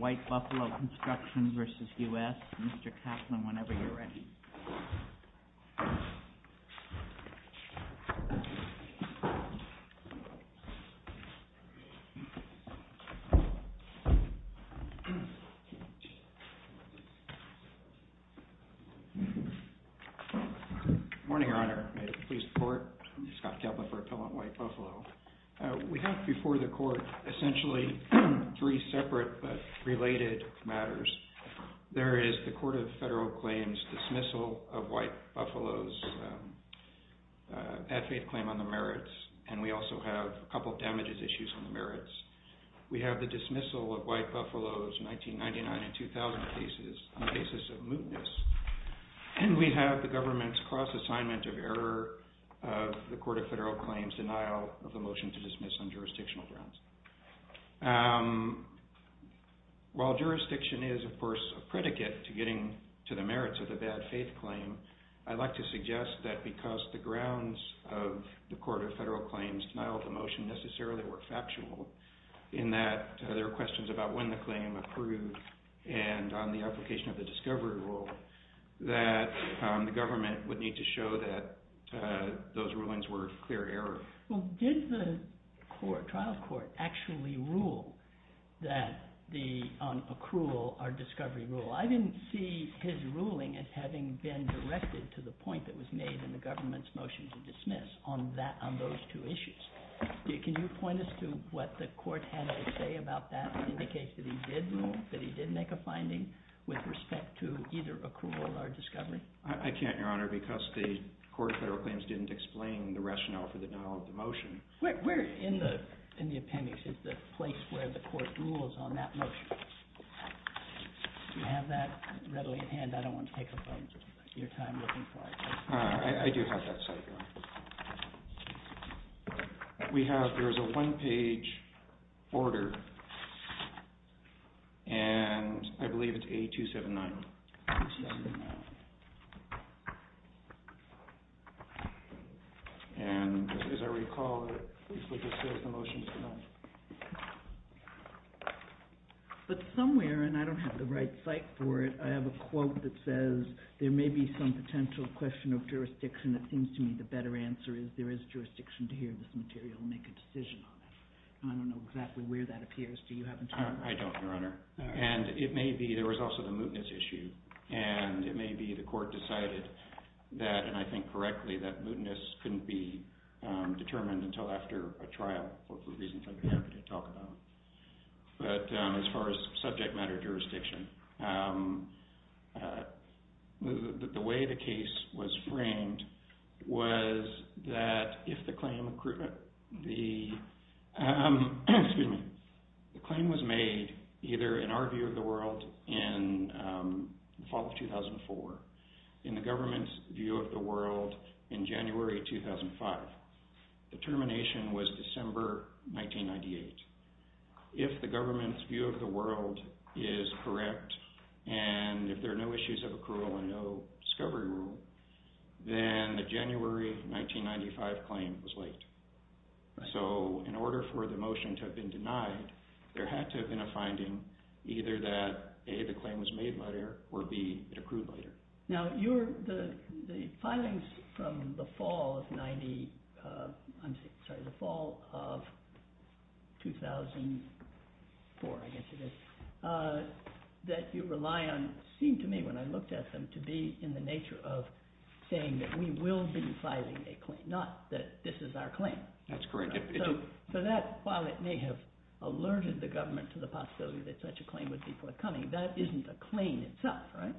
WHITE BUFFALO CONSTRUCTION v. U.S., Mr. Kaplan, whenever you're ready. Good morning, Your Honor. May it please the Court, I'm Scott Kaplan for Appellant White Buffalo. We have before the Court essentially three separate but related matters. There is the Court of Federal Claims dismissal of White Buffalo's at-faith claim on the merits, and we also have a couple of damages issues on the merits. We have the dismissal of White Buffalo's 1999 and 2000 cases on the basis of mootness. And we have the government's cross-assignment of error of the Court of Federal Claims' denial of the motion to dismiss on jurisdictional grounds. While jurisdiction is, of course, a predicate to getting to the merits of the bad-faith claim, I'd like to suggest that because the grounds of the Court of Federal Claims' denial of the motion necessarily were factual, in that there are questions about when the claim approved and on the application of the discovery rule, that the government would need to show that those rulings were clear error. Well, did the trial court actually rule on accrual or discovery rule? I didn't see his ruling as having been directed to the point that was made in the government's motion to dismiss on those two issues. Can you point us to what the court had to say about that, indicate that he did rule, that he did make a finding with respect to either accrual or discovery? I can't, Your Honor, because the Court of Federal Claims didn't explain the rationale for the denial of the motion. Where in the appendix is the place where the court rules on that motion? Do you have that readily at hand? I don't want to take up your time looking for it. I do have that site, Your Honor. There is a one-page order, and I believe it's A279. And as I recall, it just says the motion is denied. But somewhere, and I don't have the right site for it, I have a quote that says there may be some potential question of jurisdiction. It seems to me the better answer is there is jurisdiction to hear this material and make a decision on it. I don't know exactly where that appears. Do you have it, Your Honor? I don't, Your Honor. And it may be there was also the mootness issue. And it may be the court decided that, and I think correctly, that mootness couldn't be determined until after a trial, or for reasons I'm happy to talk about. But as far as subject matter jurisdiction, the way the case was framed was that if the claim was made either in our view of the world in the fall of 2004, in the government's view of the world in January 2005, the termination was December 1998. If the government's view of the world is correct, and if there are no issues of accrual and no discovery rule, then the January 1995 claim was late. So in order for the motion to have been denied, there had to have been a finding either that, A, the claim was made later, or, B, it accrued later. Now, the filings from the fall of 90, I'm sorry, the fall of 2004, I guess it is, that you rely on seemed to me when I looked at them to be in the nature of saying that we will be filing a claim, not that this is our claim. That's correct. So that, while it may have alerted the government to the possibility that such a claim would be forthcoming, that isn't a claim itself, right?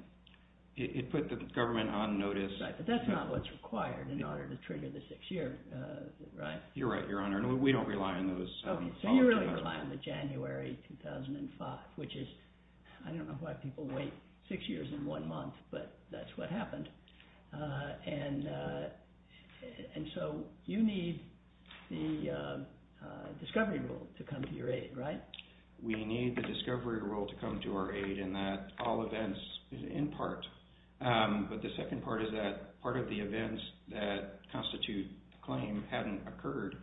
It put the government on notice. Right, but that's not what's required in order to trigger the six-year, right? You're right, Your Honor, and we don't rely on those. Okay, so you really rely on the January 2005, which is, I don't know why people wait six years and one month, but that's what happened. And so you need the discovery rule to come to your aid, right? We need the discovery rule to come to our aid in that all events is in part, but the second part is that part of the events that constitute the claim hadn't occurred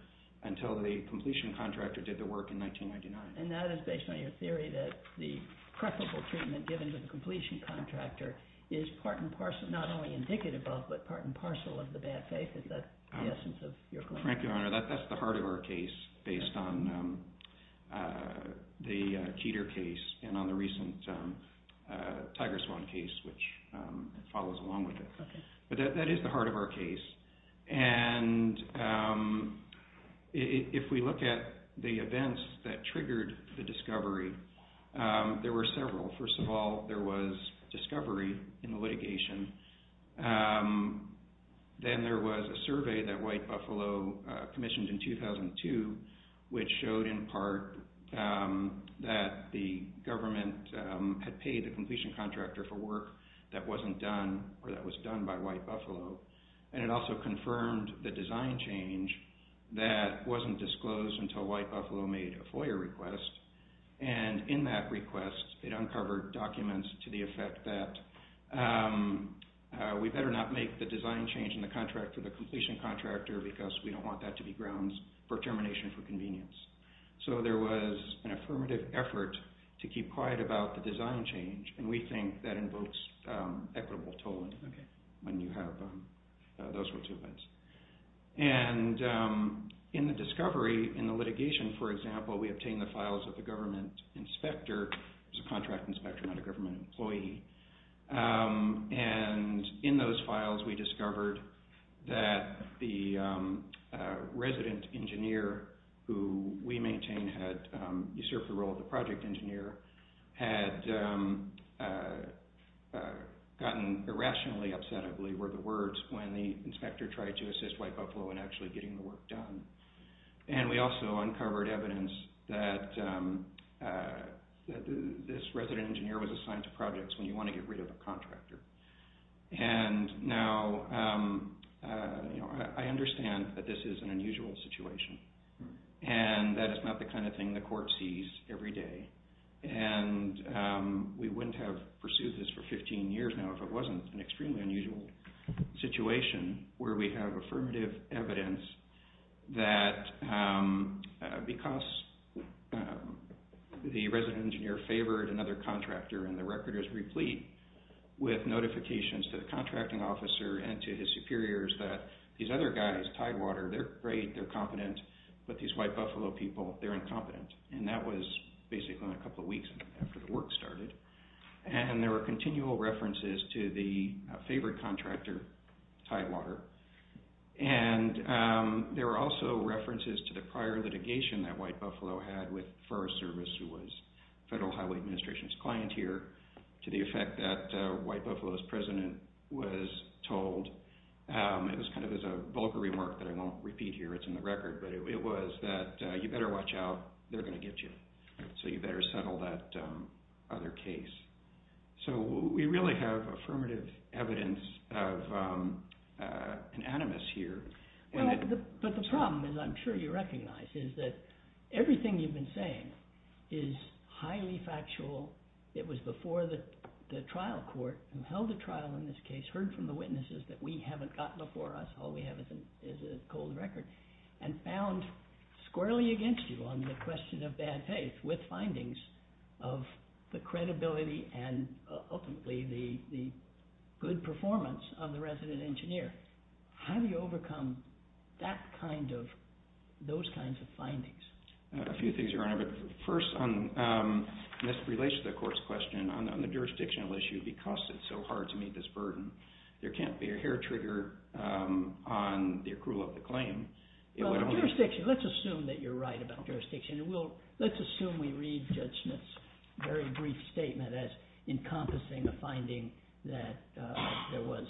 until the completion contractor did the work in 1999. And that is based on your theory that the preferable treatment given to the completion contractor is part and parcel, not only indicative of, but part and parcel of the bad faith. Is that the essence of your claim? Correct, Your Honor. That's the heart of our case based on the Keter case and on the recent TigerSwan case, which follows along with it. But that is the heart of our case. And if we look at the events that triggered the discovery, there were several. First of all, there was discovery in the litigation. Then there was a survey that White Buffalo commissioned in 2002, which showed in part that the government had paid the completion contractor for work that wasn't done or that was done by White Buffalo. And it also confirmed the design change that wasn't disclosed until White Buffalo made a FOIA request. And in that request, it uncovered documents to the effect that we better not make the design change in the contract for the completion contractor because we don't want that to be grounds for termination for convenience. So there was an affirmative effort to keep quiet about the design change, and we think that invokes equitable tolling when you have those sorts of events. And in the discovery, in the litigation, for example, we obtained the files of the government inspector. It was a contract inspector, not a government employee. And in those files, we discovered that the resident engineer who we maintain had usurped the role of the project engineer had gotten irrationally upset, I believe were the words, when the inspector tried to assist White Buffalo in actually getting the work done. And we also uncovered evidence that this resident engineer was assigned to projects when you want to get rid of a contractor. And now I understand that this is an unusual situation, and that it's not the kind of thing the court sees every day. And we wouldn't have pursued this for 15 years now if it wasn't an extremely unusual situation where we have affirmative evidence that because the resident engineer favored another contractor and the record is replete with notifications to the contracting officer and to his superiors that these other guys, Tidewater, they're great, they're competent, but these White Buffalo people, they're incompetent. And that was basically only a couple of weeks after the work started. And there were continual references to the favored contractor, Tidewater. And there were also references to the prior litigation that White Buffalo had with Forest Service who was Federal Highway Administration's clienteer to the effect that White Buffalo's president was told, it was kind of as a vulgar remark that I won't repeat here, it's in the record, but it was that you better watch out, they're going to get you. So you better settle that other case. So we really have affirmative evidence of an animus here. But the problem, as I'm sure you recognize, is that everything you've been saying is highly factual. It was before the trial court who held the trial in this case, heard from the witnesses that we haven't got before us, all we have is a cold record. And found squarely against you on the question of bad faith with findings of the credibility and ultimately the good performance of the resident engineer. How do you overcome those kinds of findings? A few things, Your Honor. But first, this relates to the court's question on the jurisdictional issue because it's so hard to meet this burden. There can't be a hair trigger on the accrual of the claim. Let's assume that you're right about jurisdiction. Let's assume we read Judge Smith's very brief statement as encompassing a finding that there was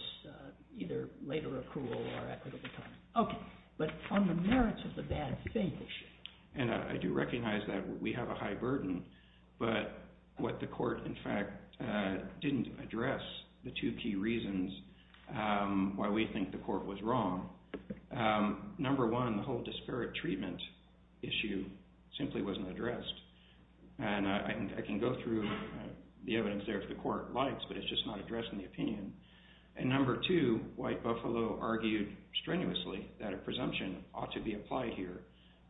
either later accrual or equitable claim. But on the merits of the bad faith issue. And I do recognize that we have a high burden, but what the court, in fact, didn't address the two key reasons why we think the court was wrong. Number one, the whole disparate treatment issue simply wasn't addressed. And I can go through the evidence there if the court likes, but it's just not addressed in the opinion. And number two, White Buffalo argued strenuously that a presumption ought to be applied here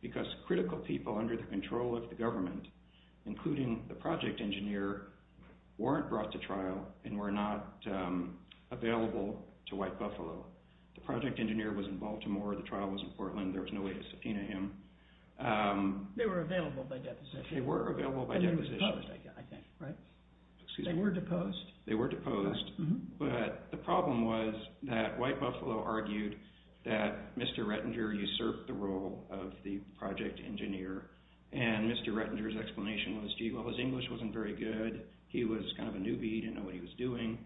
because critical people under the control of the government, including the project engineer, weren't brought to trial and were not available to White Buffalo. The project engineer was in Baltimore. The trial was in Portland. There was no way to subpoena him. They were available by deposition. They were available by deposition. And they were deposed, I think, right? They were deposed. They were deposed. But the problem was that White Buffalo argued that Mr. Rettinger usurped the role of the project engineer. And Mr. Rettinger's explanation was, gee, well, his English wasn't very good. He was kind of a newbie. He didn't know what he was doing.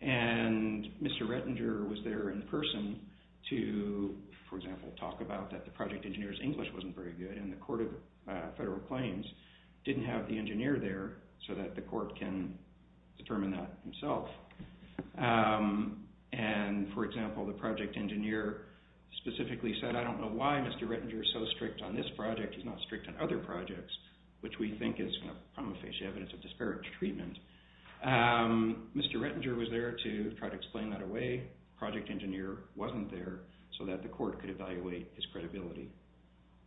And Mr. Rettinger was there in person to, for example, talk about that the project engineer's English wasn't very good. And the Court of Federal Claims didn't have the engineer there so that the court can determine that himself. And, for example, the project engineer specifically said, I don't know why Mr. Rettinger is so strict on this project. He's not strict on other projects, which we think is kind of prima facie evidence of disparate treatment. Mr. Rettinger was there to try to explain that away. The project engineer wasn't there so that the court could evaluate his credibility.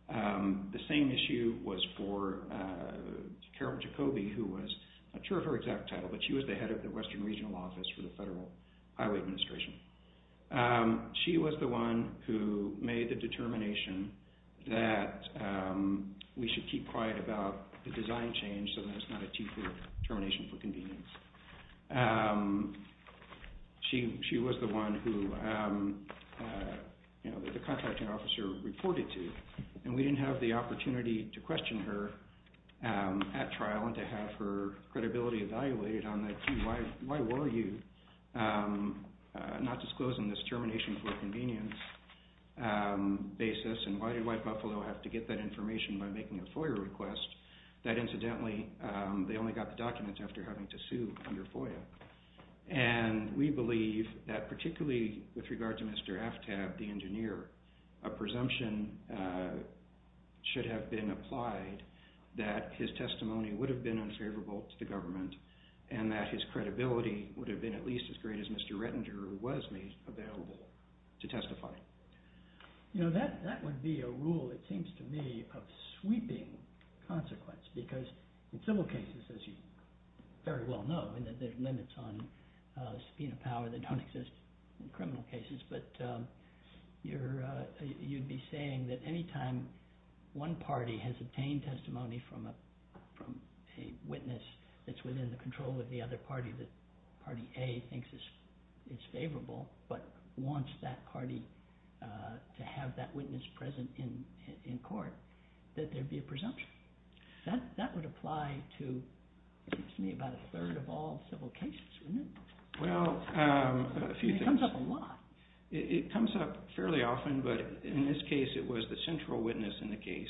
The same issue was for Carol Jacobi, who was not sure of her exact title, but she was the head of the Western Regional Office for the Federal Highway Administration. She was the one who made the determination that we should keep quiet about the design change so that it's not a T for termination for convenience. She was the one who the contracting officer reported to. And we didn't have the opportunity to question her at trial and to have her credibility evaluated on that, why were you not disclosing this termination for convenience basis, and why did White Buffalo have to get that information by making a FOIA request? That incidentally, they only got the documents after having to sue under FOIA. And we believe that particularly with regard to Mr. Aftab, the engineer, a presumption should have been applied that his testimony would have been unfavorable to the government and that his credibility would have been at least as great as Mr. Rettinger, who was made available to testify. You know, that would be a rule, it seems to me, of sweeping consequence, because in civil cases, as you very well know, there are limits on subpoena power that don't exist in criminal cases, but you'd be saying that any time one party has obtained testimony from a witness that's within the control of the other party that party A thinks is favorable, but wants that party to have that witness present in court, that there'd be a presumption. That would apply to, it seems to me, about a third of all civil cases, wouldn't it? Well, a few things. It comes up a lot. It comes up fairly often, but in this case, it was the central witness in the case,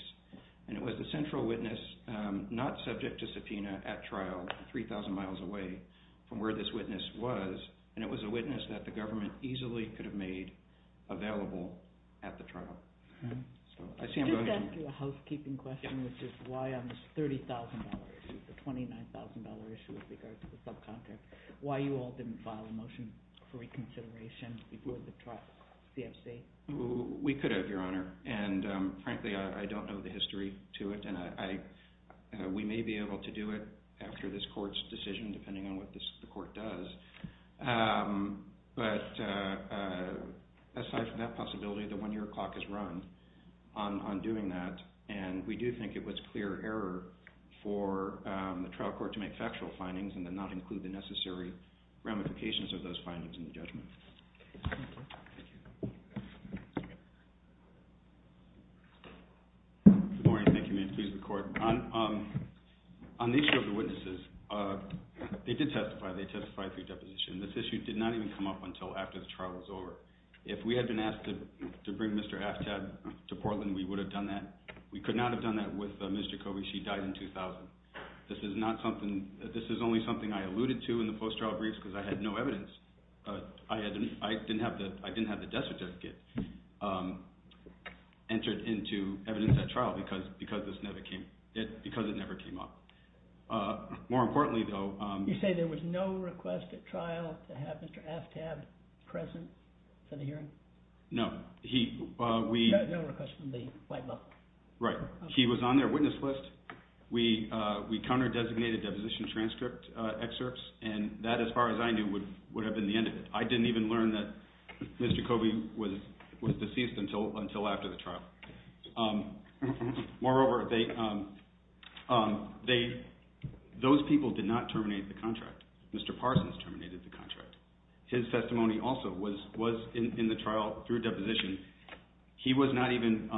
and it was the central witness not subject to subpoena at trial 3,000 miles away from where this witness was, and it was a witness that the government easily could have made available at the trial. I just have to ask you a housekeeping question, which is why on this $30,000 issue, the $29,000 issue with regards to the subcontract, why you all didn't file a motion for reconsideration before the trial, CFC? We could have, Your Honor, and frankly, I don't know the history to it, and we may be able to do it after this court's decision, depending on what the court does. But aside from that possibility, the one-year clock has run on doing that, and we do think it was clear error for the trial court to make factual findings and then not include the necessary ramifications of those findings in the judgment. Good morning. Thank you. May it please the Court. On the issue of the witnesses, they did testify. They testified through deposition. This issue did not even come up until after the trial was over. If we had been asked to bring Mr. Aftab to Portland, we would have done that. We could not have done that with Ms. Jacoby. She died in 2000. This is not something – this is only something I alluded to in the post-trial briefs because I had no evidence. I didn't have the death certificate entered into evidence at trial because this never came – because it never came up. More importantly, though – You say there was no request at trial to have Mr. Aftab present for the hearing? No. He – we – No request from the white level? Right. He was on their witness list. We counter-designated deposition transcript excerpts, and that, as far as I knew, would have been the end of it. I didn't even learn that Ms. Jacoby was deceased until after the trial. Moreover, they – those people did not terminate the contract. Mr. Parsons terminated the contract. His testimony also was in the trial through deposition. He was not even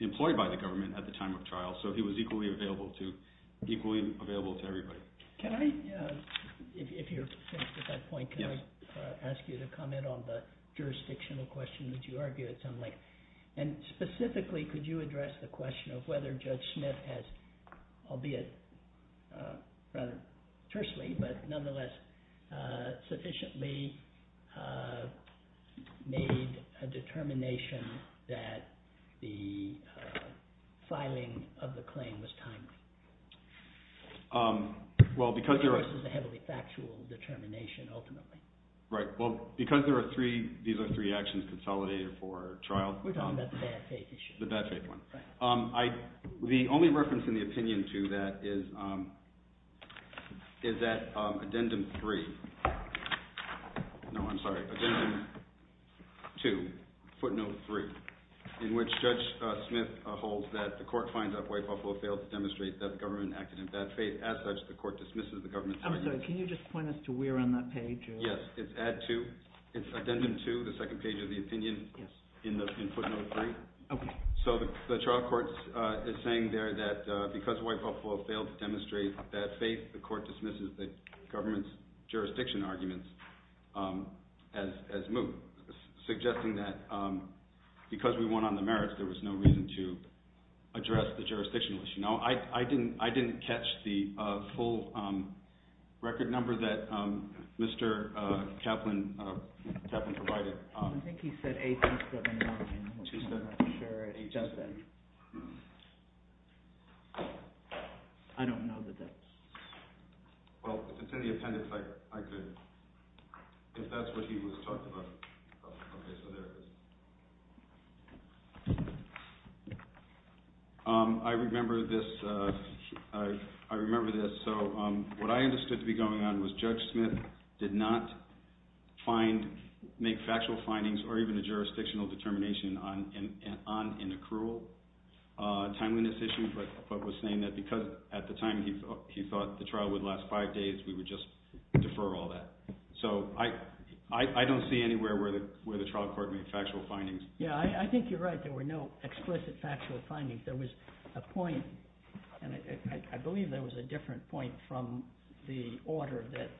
employed by the government at the time of trial, so he was equally available to – equally available to everybody. Can I – if you're finished at that point, can I ask you to comment on the jurisdictional question that you argued, something like – and specifically, could you address the question of whether Judge Smith has, albeit rather tersely but nonetheless sufficiently made a determination that the filing of the claim was timely? Well, because there are – It was a heavily factual determination, ultimately. Right. Well, because there are three – these are three actions consolidated for trial – We're talking about the bad faith issue. The bad faith one. Right. The only reference in the opinion to that is that Addendum 3 – no, I'm sorry, Addendum 2, footnote 3, in which Judge Smith holds that the court finds that White Buffalo failed to demonstrate that the government acted in bad faith. As such, the court dismisses the government's arguments. I'm sorry. Can you just point us to where on that page? Yes. It's Addendum 2, the second page of the opinion in footnote 3. Okay. So the trial court is saying there that because White Buffalo failed to demonstrate bad faith, the court dismisses the government's jurisdiction arguments as moot, suggesting that because we won on the merits, there was no reason to address the jurisdictional issue. Now, I didn't catch the full record number that Mr. Kaplan provided. I think he said 8779, which I'm not sure it does say. I don't know that that's – Well, if it's in the appendix, I could – if that's what he was talking about. Okay, so there it is. I remember this. So what I understood to be going on was Judge Smith did not find – make factual findings or even a jurisdictional determination on an accrual timeliness issue, but was saying that because at the time he thought the trial would last five days, we would just defer all that. So I don't see anywhere where the trial court made factual findings. Yeah, I think you're right. There were no explicit factual findings. There was a point, and I believe there was a different point from the order that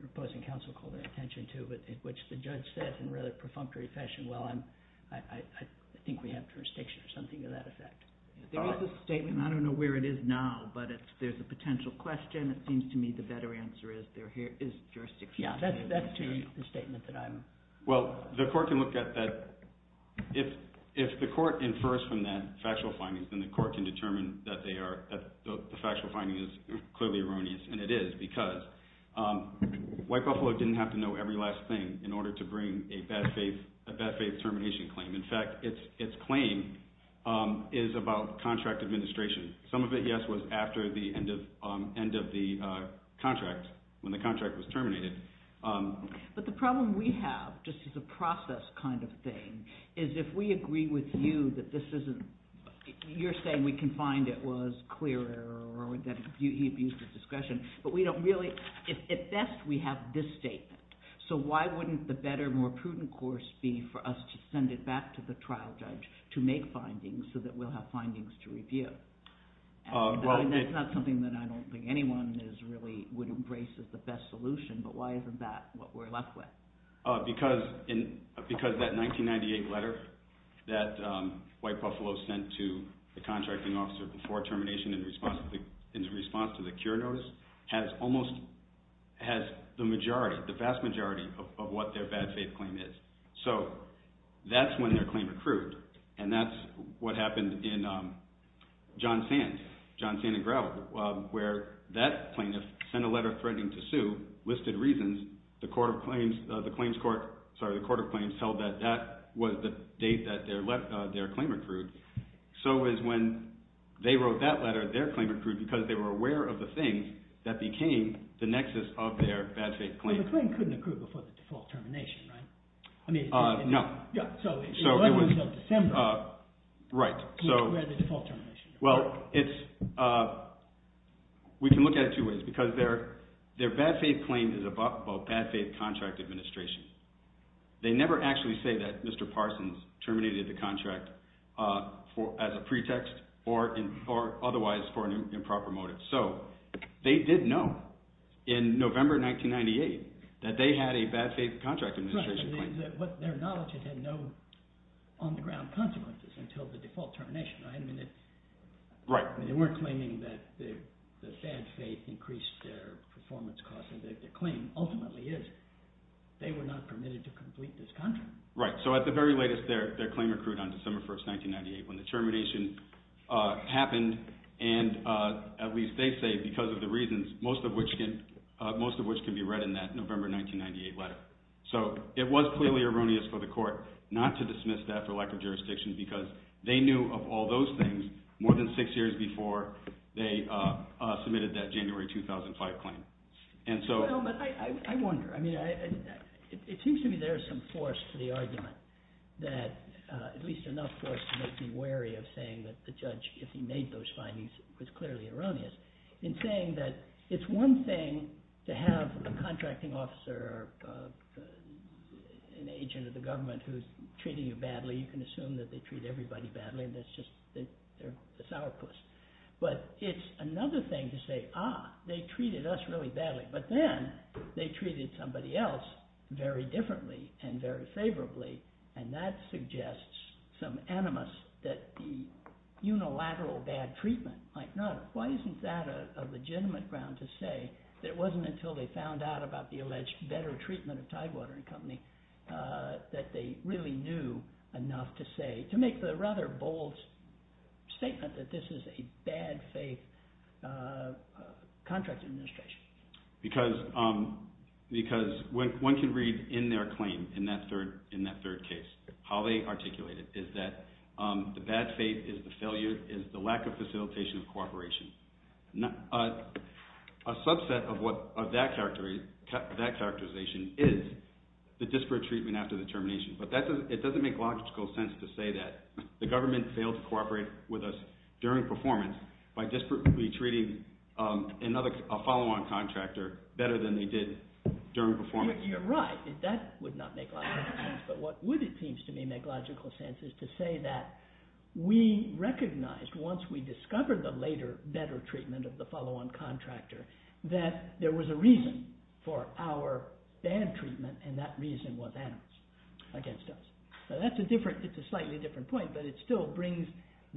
the opposing counsel called their attention to, which the judge said in a rather perfunctory fashion, well, I think we have jurisdiction or something to that effect. There is a statement. I don't know where it is now, but there's a potential question. It seems to me the better answer is there is jurisdiction. Yeah, that's to the statement that I'm – Well, the court can look at that – if the court infers from that factual findings, then the court can determine that they are – that the factual finding is clearly erroneous, and it is because White Buffalo didn't have to know every last thing in order to bring a bad faith termination claim. In fact, its claim is about contract administration. Some of it, yes, was after the end of the contract, when the contract was terminated. But the problem we have, just as a process kind of thing, is if we agree with you that this isn't – you're saying we can find it was clear error or that he abused his discretion, but we don't really – at best we have this statement. So why wouldn't the better, more prudent course be for us to send it back to the trial judge to make findings so that we'll have findings to review? That's not something that I don't think anyone really would embrace as the best solution, but why isn't that what we're left with? Because that 1998 letter that White Buffalo sent to the contracting officer before termination in response to the cure notice has almost – has the majority, the vast majority of what their bad faith claim is. So that's when their claim accrued, and that's what happened in John Sands, John Sands and Grout, where that plaintiff sent a letter threatening to sue, listed reasons, the court of claims held that that was the date that their claim accrued. So it was when they wrote that letter, their claim accrued because they were aware of the things that became the nexus of their bad faith claim. So the claim couldn't accrue before the default termination, right? I mean – No. Yeah, so it wasn't until December. Right. Where the default termination occurred. Well, it's – we can look at it two ways because their bad faith claim is about bad faith contract administration. They never actually say that Mr. Parsons terminated the contract as a pretext or otherwise for an improper motive. So they did know in November 1998 that they had a bad faith contract administration claim. Right, but their knowledge had no on-the-ground consequences until the default termination, right? I mean it – Right. I mean they weren't claiming that the bad faith increased their performance cost. Their claim ultimately is they were not permitted to complete this contract. Right, so at the very latest their claim accrued on December 1, 1998 when the termination happened, and at least they say because of the reasons, most of which can be read in that November 1998 letter. So it was clearly erroneous for the court not to dismiss that for lack of jurisdiction because they knew of all those things more than six years before they submitted that January 2005 claim. And so – No, but I wonder. I mean it seems to me there is some force to the argument that – at least enough force to make me wary of saying that the judge, if he made those findings, was clearly erroneous. In saying that it's one thing to have a contracting officer or an agent of the government who's treating you badly. You can assume that they treat everybody badly and that's just – they're a sourpuss. But it's another thing to say, ah, they treated us really badly. But then they treated somebody else very differently and very favorably, and that suggests some animus that the unilateral bad treatment might not – why isn't that a legitimate ground to say that it wasn't until they found out about the alleged better treatment of Tidewater and Company that they really knew enough to say – To make the rather bold statement that this is a bad faith contract administration. Because one can read in their claim, in that third case, how they articulate it, is that the bad faith is the failure – is the lack of facilitation of cooperation. A subset of that characterization is the disparate treatment after the termination. But it doesn't make logical sense to say that the government failed to cooperate with us during performance by disparately treating a follow-on contractor better than they did during performance. You're right. That would not make logical sense. But what would, it seems to me, make logical sense is to say that we recognized once we discovered the later better treatment of the follow-on contractor that there was a reason for our bad treatment and that reason was animus against us. That's a different – it's a slightly different point, but it still brings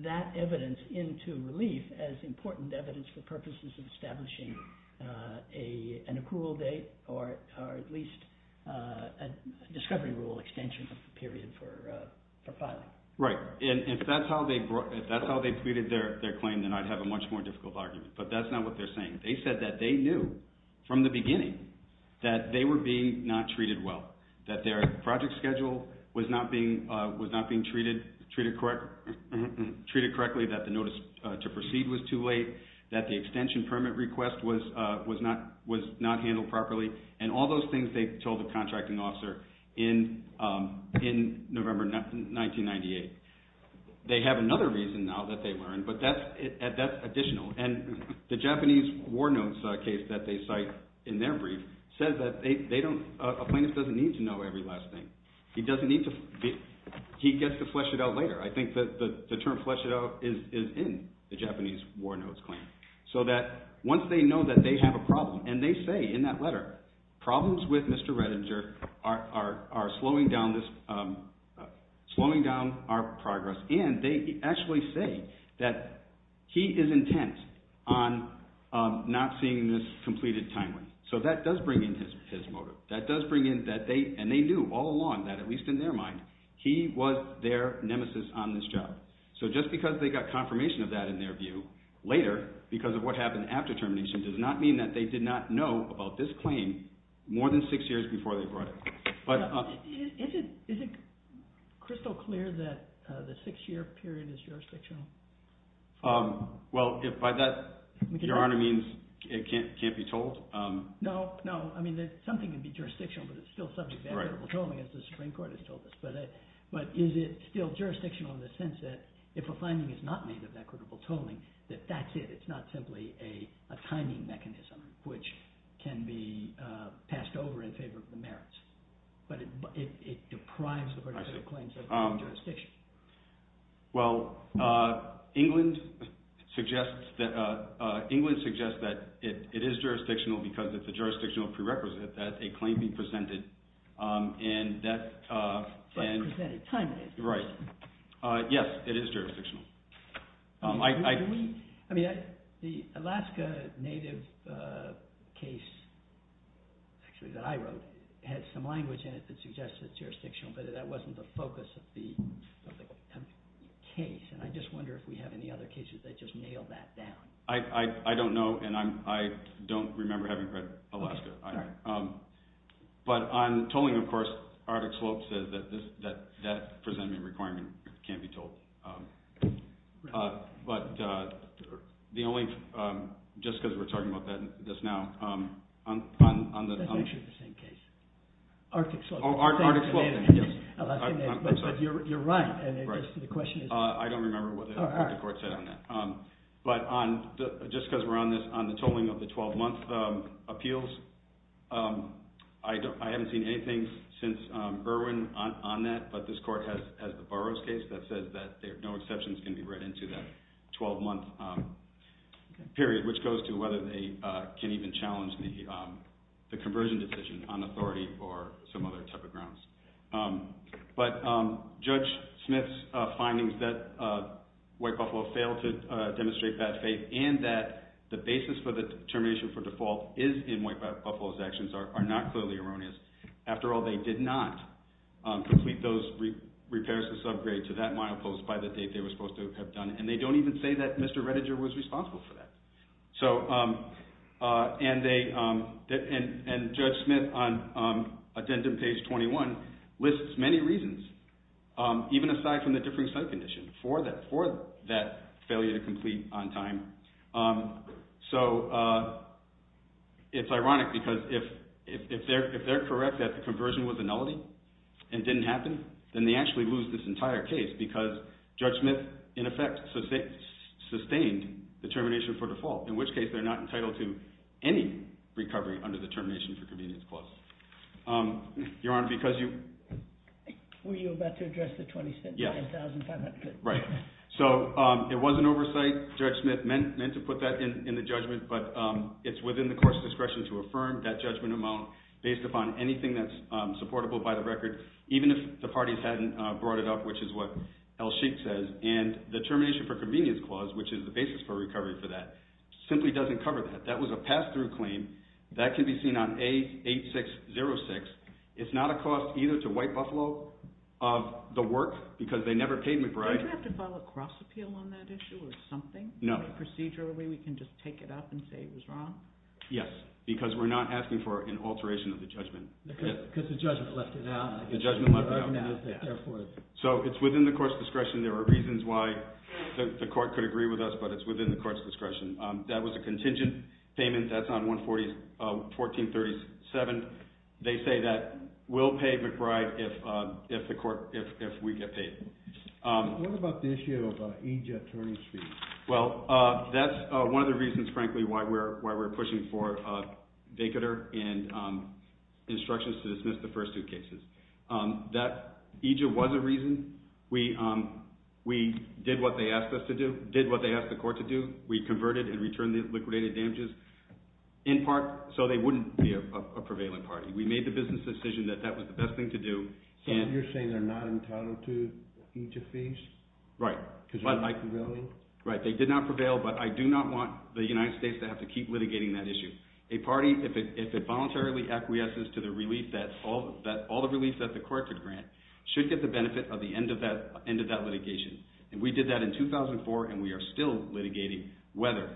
that evidence into relief as important evidence for purposes of establishing an accrual date or at least a discovery rule extension period for filing. Right. And if that's how they brought – if that's how they treated their claim, then I'd have a much more difficult argument. But that's not what they're saying. They said that they knew from the beginning that they were being not treated well, that their project schedule was not being treated correctly, that the notice to proceed was too late, that the extension permit request was not handled properly, and all those things they told the contracting officer in November 1998. They have another reason now that they learned, but that's additional. And the Japanese war notes case that they cite in their brief says that they don't – a plaintiff doesn't need to know every last thing. He doesn't need to – he gets to flesh it out later. I think that the term flesh it out is in the Japanese war notes claim. So that once they know that they have a problem, and they say in that letter, problems with Mr. Redinger are slowing down this – slowing down our progress, and they actually say that he is intent on not seeing this completed timely. So that does bring in his motive. That does bring in that they – and they knew all along that, at least in their mind, he was their nemesis on this job. So just because they got confirmation of that in their view later because of what happened after termination does not mean that they did not know about this claim more than six years before they brought it. Is it crystal clear that the six-year period is jurisdictional? Well, by that, Your Honor, it means it can't be told. No, no. I mean something can be jurisdictional, but it's still subject to equitable tolling as the Supreme Court has told us. But is it still jurisdictional in the sense that if a finding is not made of equitable tolling, that that's it. It's not simply a timing mechanism which can be passed over in favor of the merits. But it deprives the particular claim subject to jurisdiction. Well, England suggests that it is jurisdictional because it's a jurisdictional prerequisite that a claim be presented and that – But presented timely. Right. Yes, it is jurisdictional. I mean the Alaska native case actually that I wrote had some language in it that suggested it's jurisdictional, but that wasn't the focus of the case. And I just wonder if we have any other cases that just nail that down. I don't know, and I don't remember having read Alaska. But on tolling, of course, Arctic Slope says that that presentment requirement can't be told. But the only – just because we're talking about this now. That's actually the same case. Arctic Slope. Oh, Arctic Slope. But you're right, and the question is – I don't remember what the court said on that. But just because we're on this, on the tolling of the 12-month appeals, I haven't seen anything since Irwin on that. But this court has the Burroughs case that says that no exceptions can be read into that 12-month period, which goes to whether they can even challenge the conversion decision on authority or some other type of grounds. But Judge Smith's findings that White Buffalo failed to demonstrate bad faith and that the basis for the termination for default is in White Buffalo's actions are not clearly erroneous. After all, they did not complete those repairs to subgrade to that milepost by the date they were supposed to have done, and they don't even say that Mr. Rettiger was responsible for that. And Judge Smith, on addendum page 21, lists many reasons, even aside from the differing site condition, for that failure to complete on time. So it's ironic because if they're correct that the conversion was a nullity and didn't happen, then they actually lose this entire case because Judge Smith, in effect, sustained the termination for default, in which case they're not entitled to any recovery under the termination for convenience clause. Your Honor, because you... Were you about to address the $0.20? Yes. $1,500. Right. So it was an oversight. Judge Smith meant to put that in the judgment, but it's within the court's discretion to affirm that judgment amount based upon anything that's supportable by the record, even if the parties hadn't brought it up, which is what L. Sheik says, and the termination for convenience clause, which is the basis for recovery for that, simply doesn't cover that. That was a pass-through claim. That can be seen on A8606. It's not a cost either to White Buffalo of the work because they never paid McBride. Don't we have to file a cross-appeal on that issue or something? No. Procedurally, we can just take it up and say it was wrong? Yes, because we're not asking for an alteration of the judgment. Because the judgment left it out. So it's within the court's discretion. There are reasons why the court could agree with us, but it's within the court's discretion. That was a contingent payment. That's on 11437. They say that we'll pay McBride if we get paid. What about the issue of EJ attorney's fees? Well, that's one of the reasons, frankly, why we're pushing for vacater and instructions to dismiss the first two cases. EJ was a reason. We did what they asked us to do, did what they asked the court to do. We converted and returned the liquidated damages in part so they wouldn't be a prevailing party. We made the business decision that that was the best thing to do. So you're saying they're not entitled to EJ fees? Right. Because they're not prevailing? Right, they did not prevail, but I do not want the United States to have to keep litigating that issue. A party, if it voluntarily acquiesces to all the relief that the court could grant, should get the benefit of the end of that litigation. We did that in 2004, and we are still litigating whether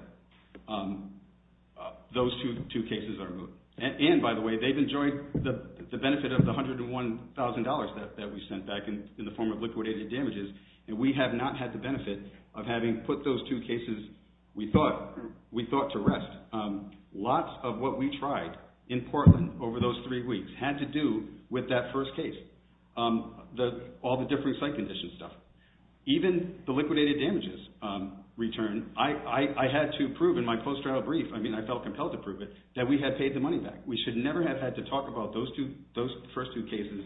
those two cases are removed. And, by the way, they've enjoyed the benefit of the $101,000 that we sent back in the form of liquidated damages. And we have not had the benefit of having put those two cases, we thought, to rest. Lots of what we tried in Portland over those three weeks had to do with that first case, all the different site conditions and stuff. Even the liquidated damages return, I had to prove in my post-trial brief, I mean I felt compelled to prove it, that we had paid the money back. We should never have had to talk about those first two cases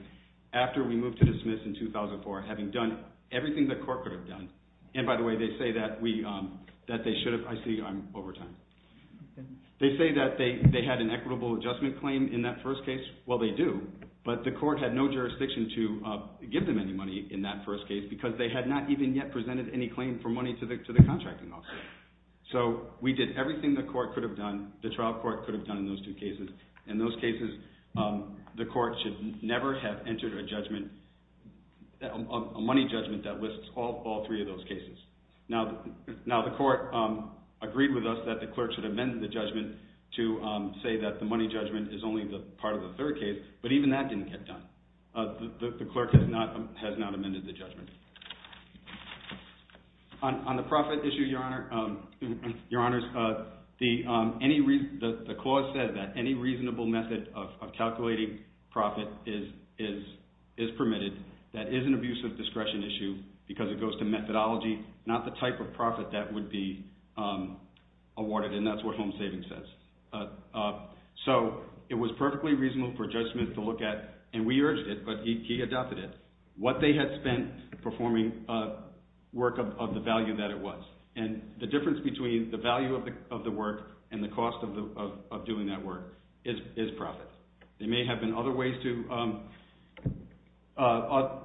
after we moved to dismiss in 2004, having done everything the court could have done. And, by the way, they say that they had an equitable adjustment claim in that first case. Well, they do, but the court had no jurisdiction to give them any money in that first case because they had not even yet presented any claim for money to the contracting officer. So we did everything the court could have done, the trial court could have done in those two cases. In those cases, the court should never have entered a judgment, a money judgment that lists all three of those cases. Now the court agreed with us that the clerk should amend the judgment to say that the money judgment is only part of the third case, but even that didn't get done. On the profit issue, your honors, the clause says that any reasonable method of calculating profit is permitted. That is an abuse of discretion issue because it goes to methodology, not the type of profit that would be awarded, and that's what home savings says. So it was perfectly reasonable for Judge Smith to look at, and we urged it, but he adopted it, what they had spent performing work of the value that it was. And the difference between the value of the work and the cost of doing that work is profit. There may have been other ways to,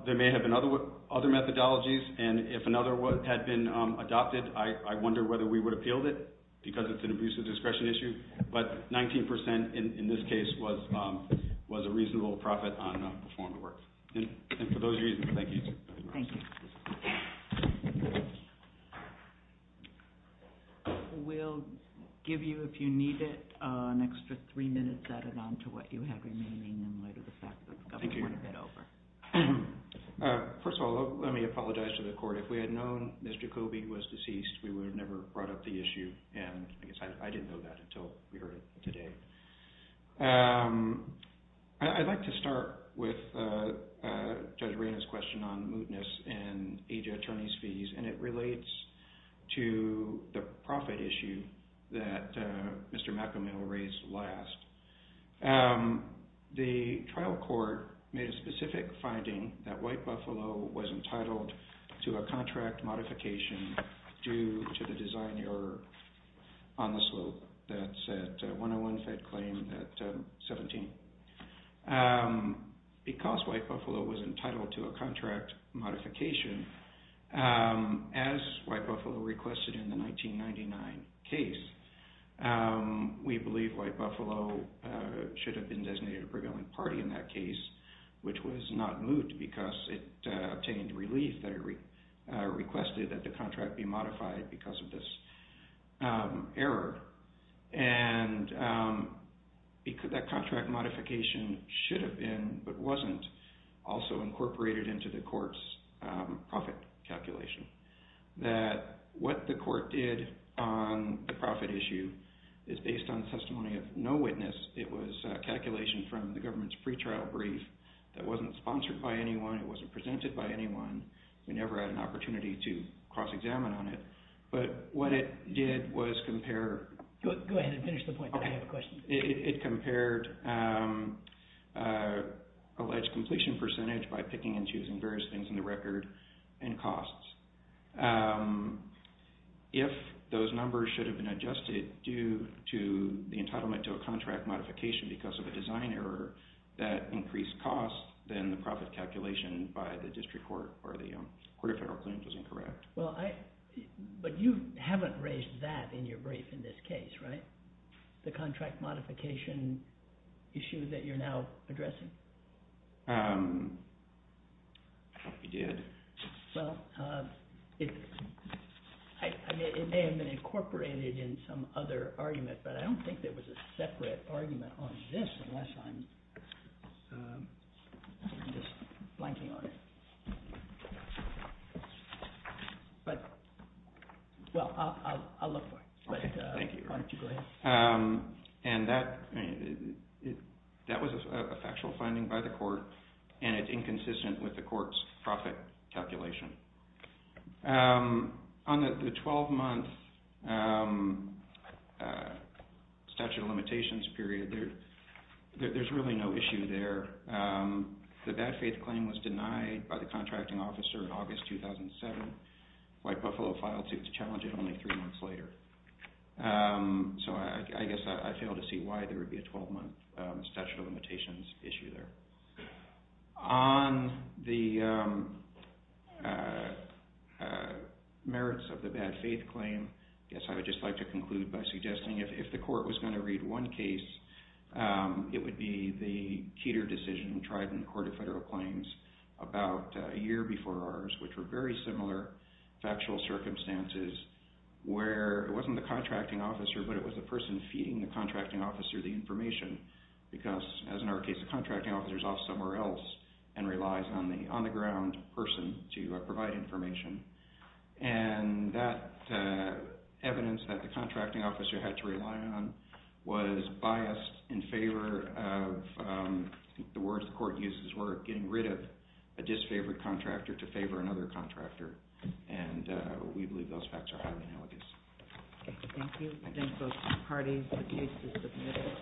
there may have been other methodologies, and if another had been adopted, I wonder whether we would have appealed it because it's an abuse of discretion issue. But 19% in this case was a reasonable profit on performing the work. And for those reasons, thank you. Thank you. We'll give you, if you need it, an extra three minutes added on to what you have remaining in light of the fact that the government went over. First of all, let me apologize to the court. If we had known Mr. Kobe was deceased, we would have never brought up the issue, and I guess I didn't know that until we heard it today. I'd like to start with Judge Reyna's question on mootness and AG attorney's fees, and it relates to the profit issue that Mr. McAmel raised last. The trial court made a specific finding that White Buffalo was entitled to a contract modification due to the design error on the slope. That's a 101 Fed claim at 17. Because White Buffalo was entitled to a contract modification, as White Buffalo requested in the 1999 case, we believe White Buffalo should have been designated a prevailing party in that case, which was not moot because it obtained relief that it requested that the contract be modified because of this error. That contract modification should have been, but wasn't, also incorporated into the court's profit calculation. What the court did on the profit issue is based on testimony of no witness. It was a calculation from the government's pretrial brief that wasn't sponsored by anyone. It wasn't presented by anyone. We never had an opportunity to cross-examine on it. But what it did was compare... Go ahead and finish the point, but I have a question. It compared alleged completion percentage by picking and choosing various things in the record and costs. If those numbers should have been adjusted due to the entitlement to a contract modification because of a design error that increased costs, then the profit calculation by the district court or the court of federal claims was incorrect. But you haven't raised that in your brief in this case, right? The contract modification issue that you're now addressing? I hope you did. Well, it may have been incorporated in some other argument, but I don't think there was a separate argument on this unless I'm just blanking on it. Well, I'll look for it, but why don't you go ahead. And that was a factual finding by the court, and it's inconsistent with the court's profit calculation. On the 12-month statute of limitations period, there's really no issue there. The bad faith claim was denied by the contracting officer in August 2007. White Buffalo filed suit to challenge it only three months later. So I guess I fail to see why there would be a 12-month statute of limitations issue there. On the merits of the bad faith claim, I guess I would just like to conclude by suggesting if the court was going to read one case, it would be the Keter decision tried in the court of federal claims about a year before ours, which were very similar factual circumstances where it wasn't the contracting officer, but it was the person feeding the contracting officer the information. Because, as in our case, the contracting officer is off somewhere else and relies on the on-the-ground person to provide information. And that evidence that the contracting officer had to rely on was biased in favor of, I think the words the court uses were, getting rid of a disfavored contractor to favor another contractor. And we believe those facts are highly analogous. Thank you. I thank both parties. The case is submitted.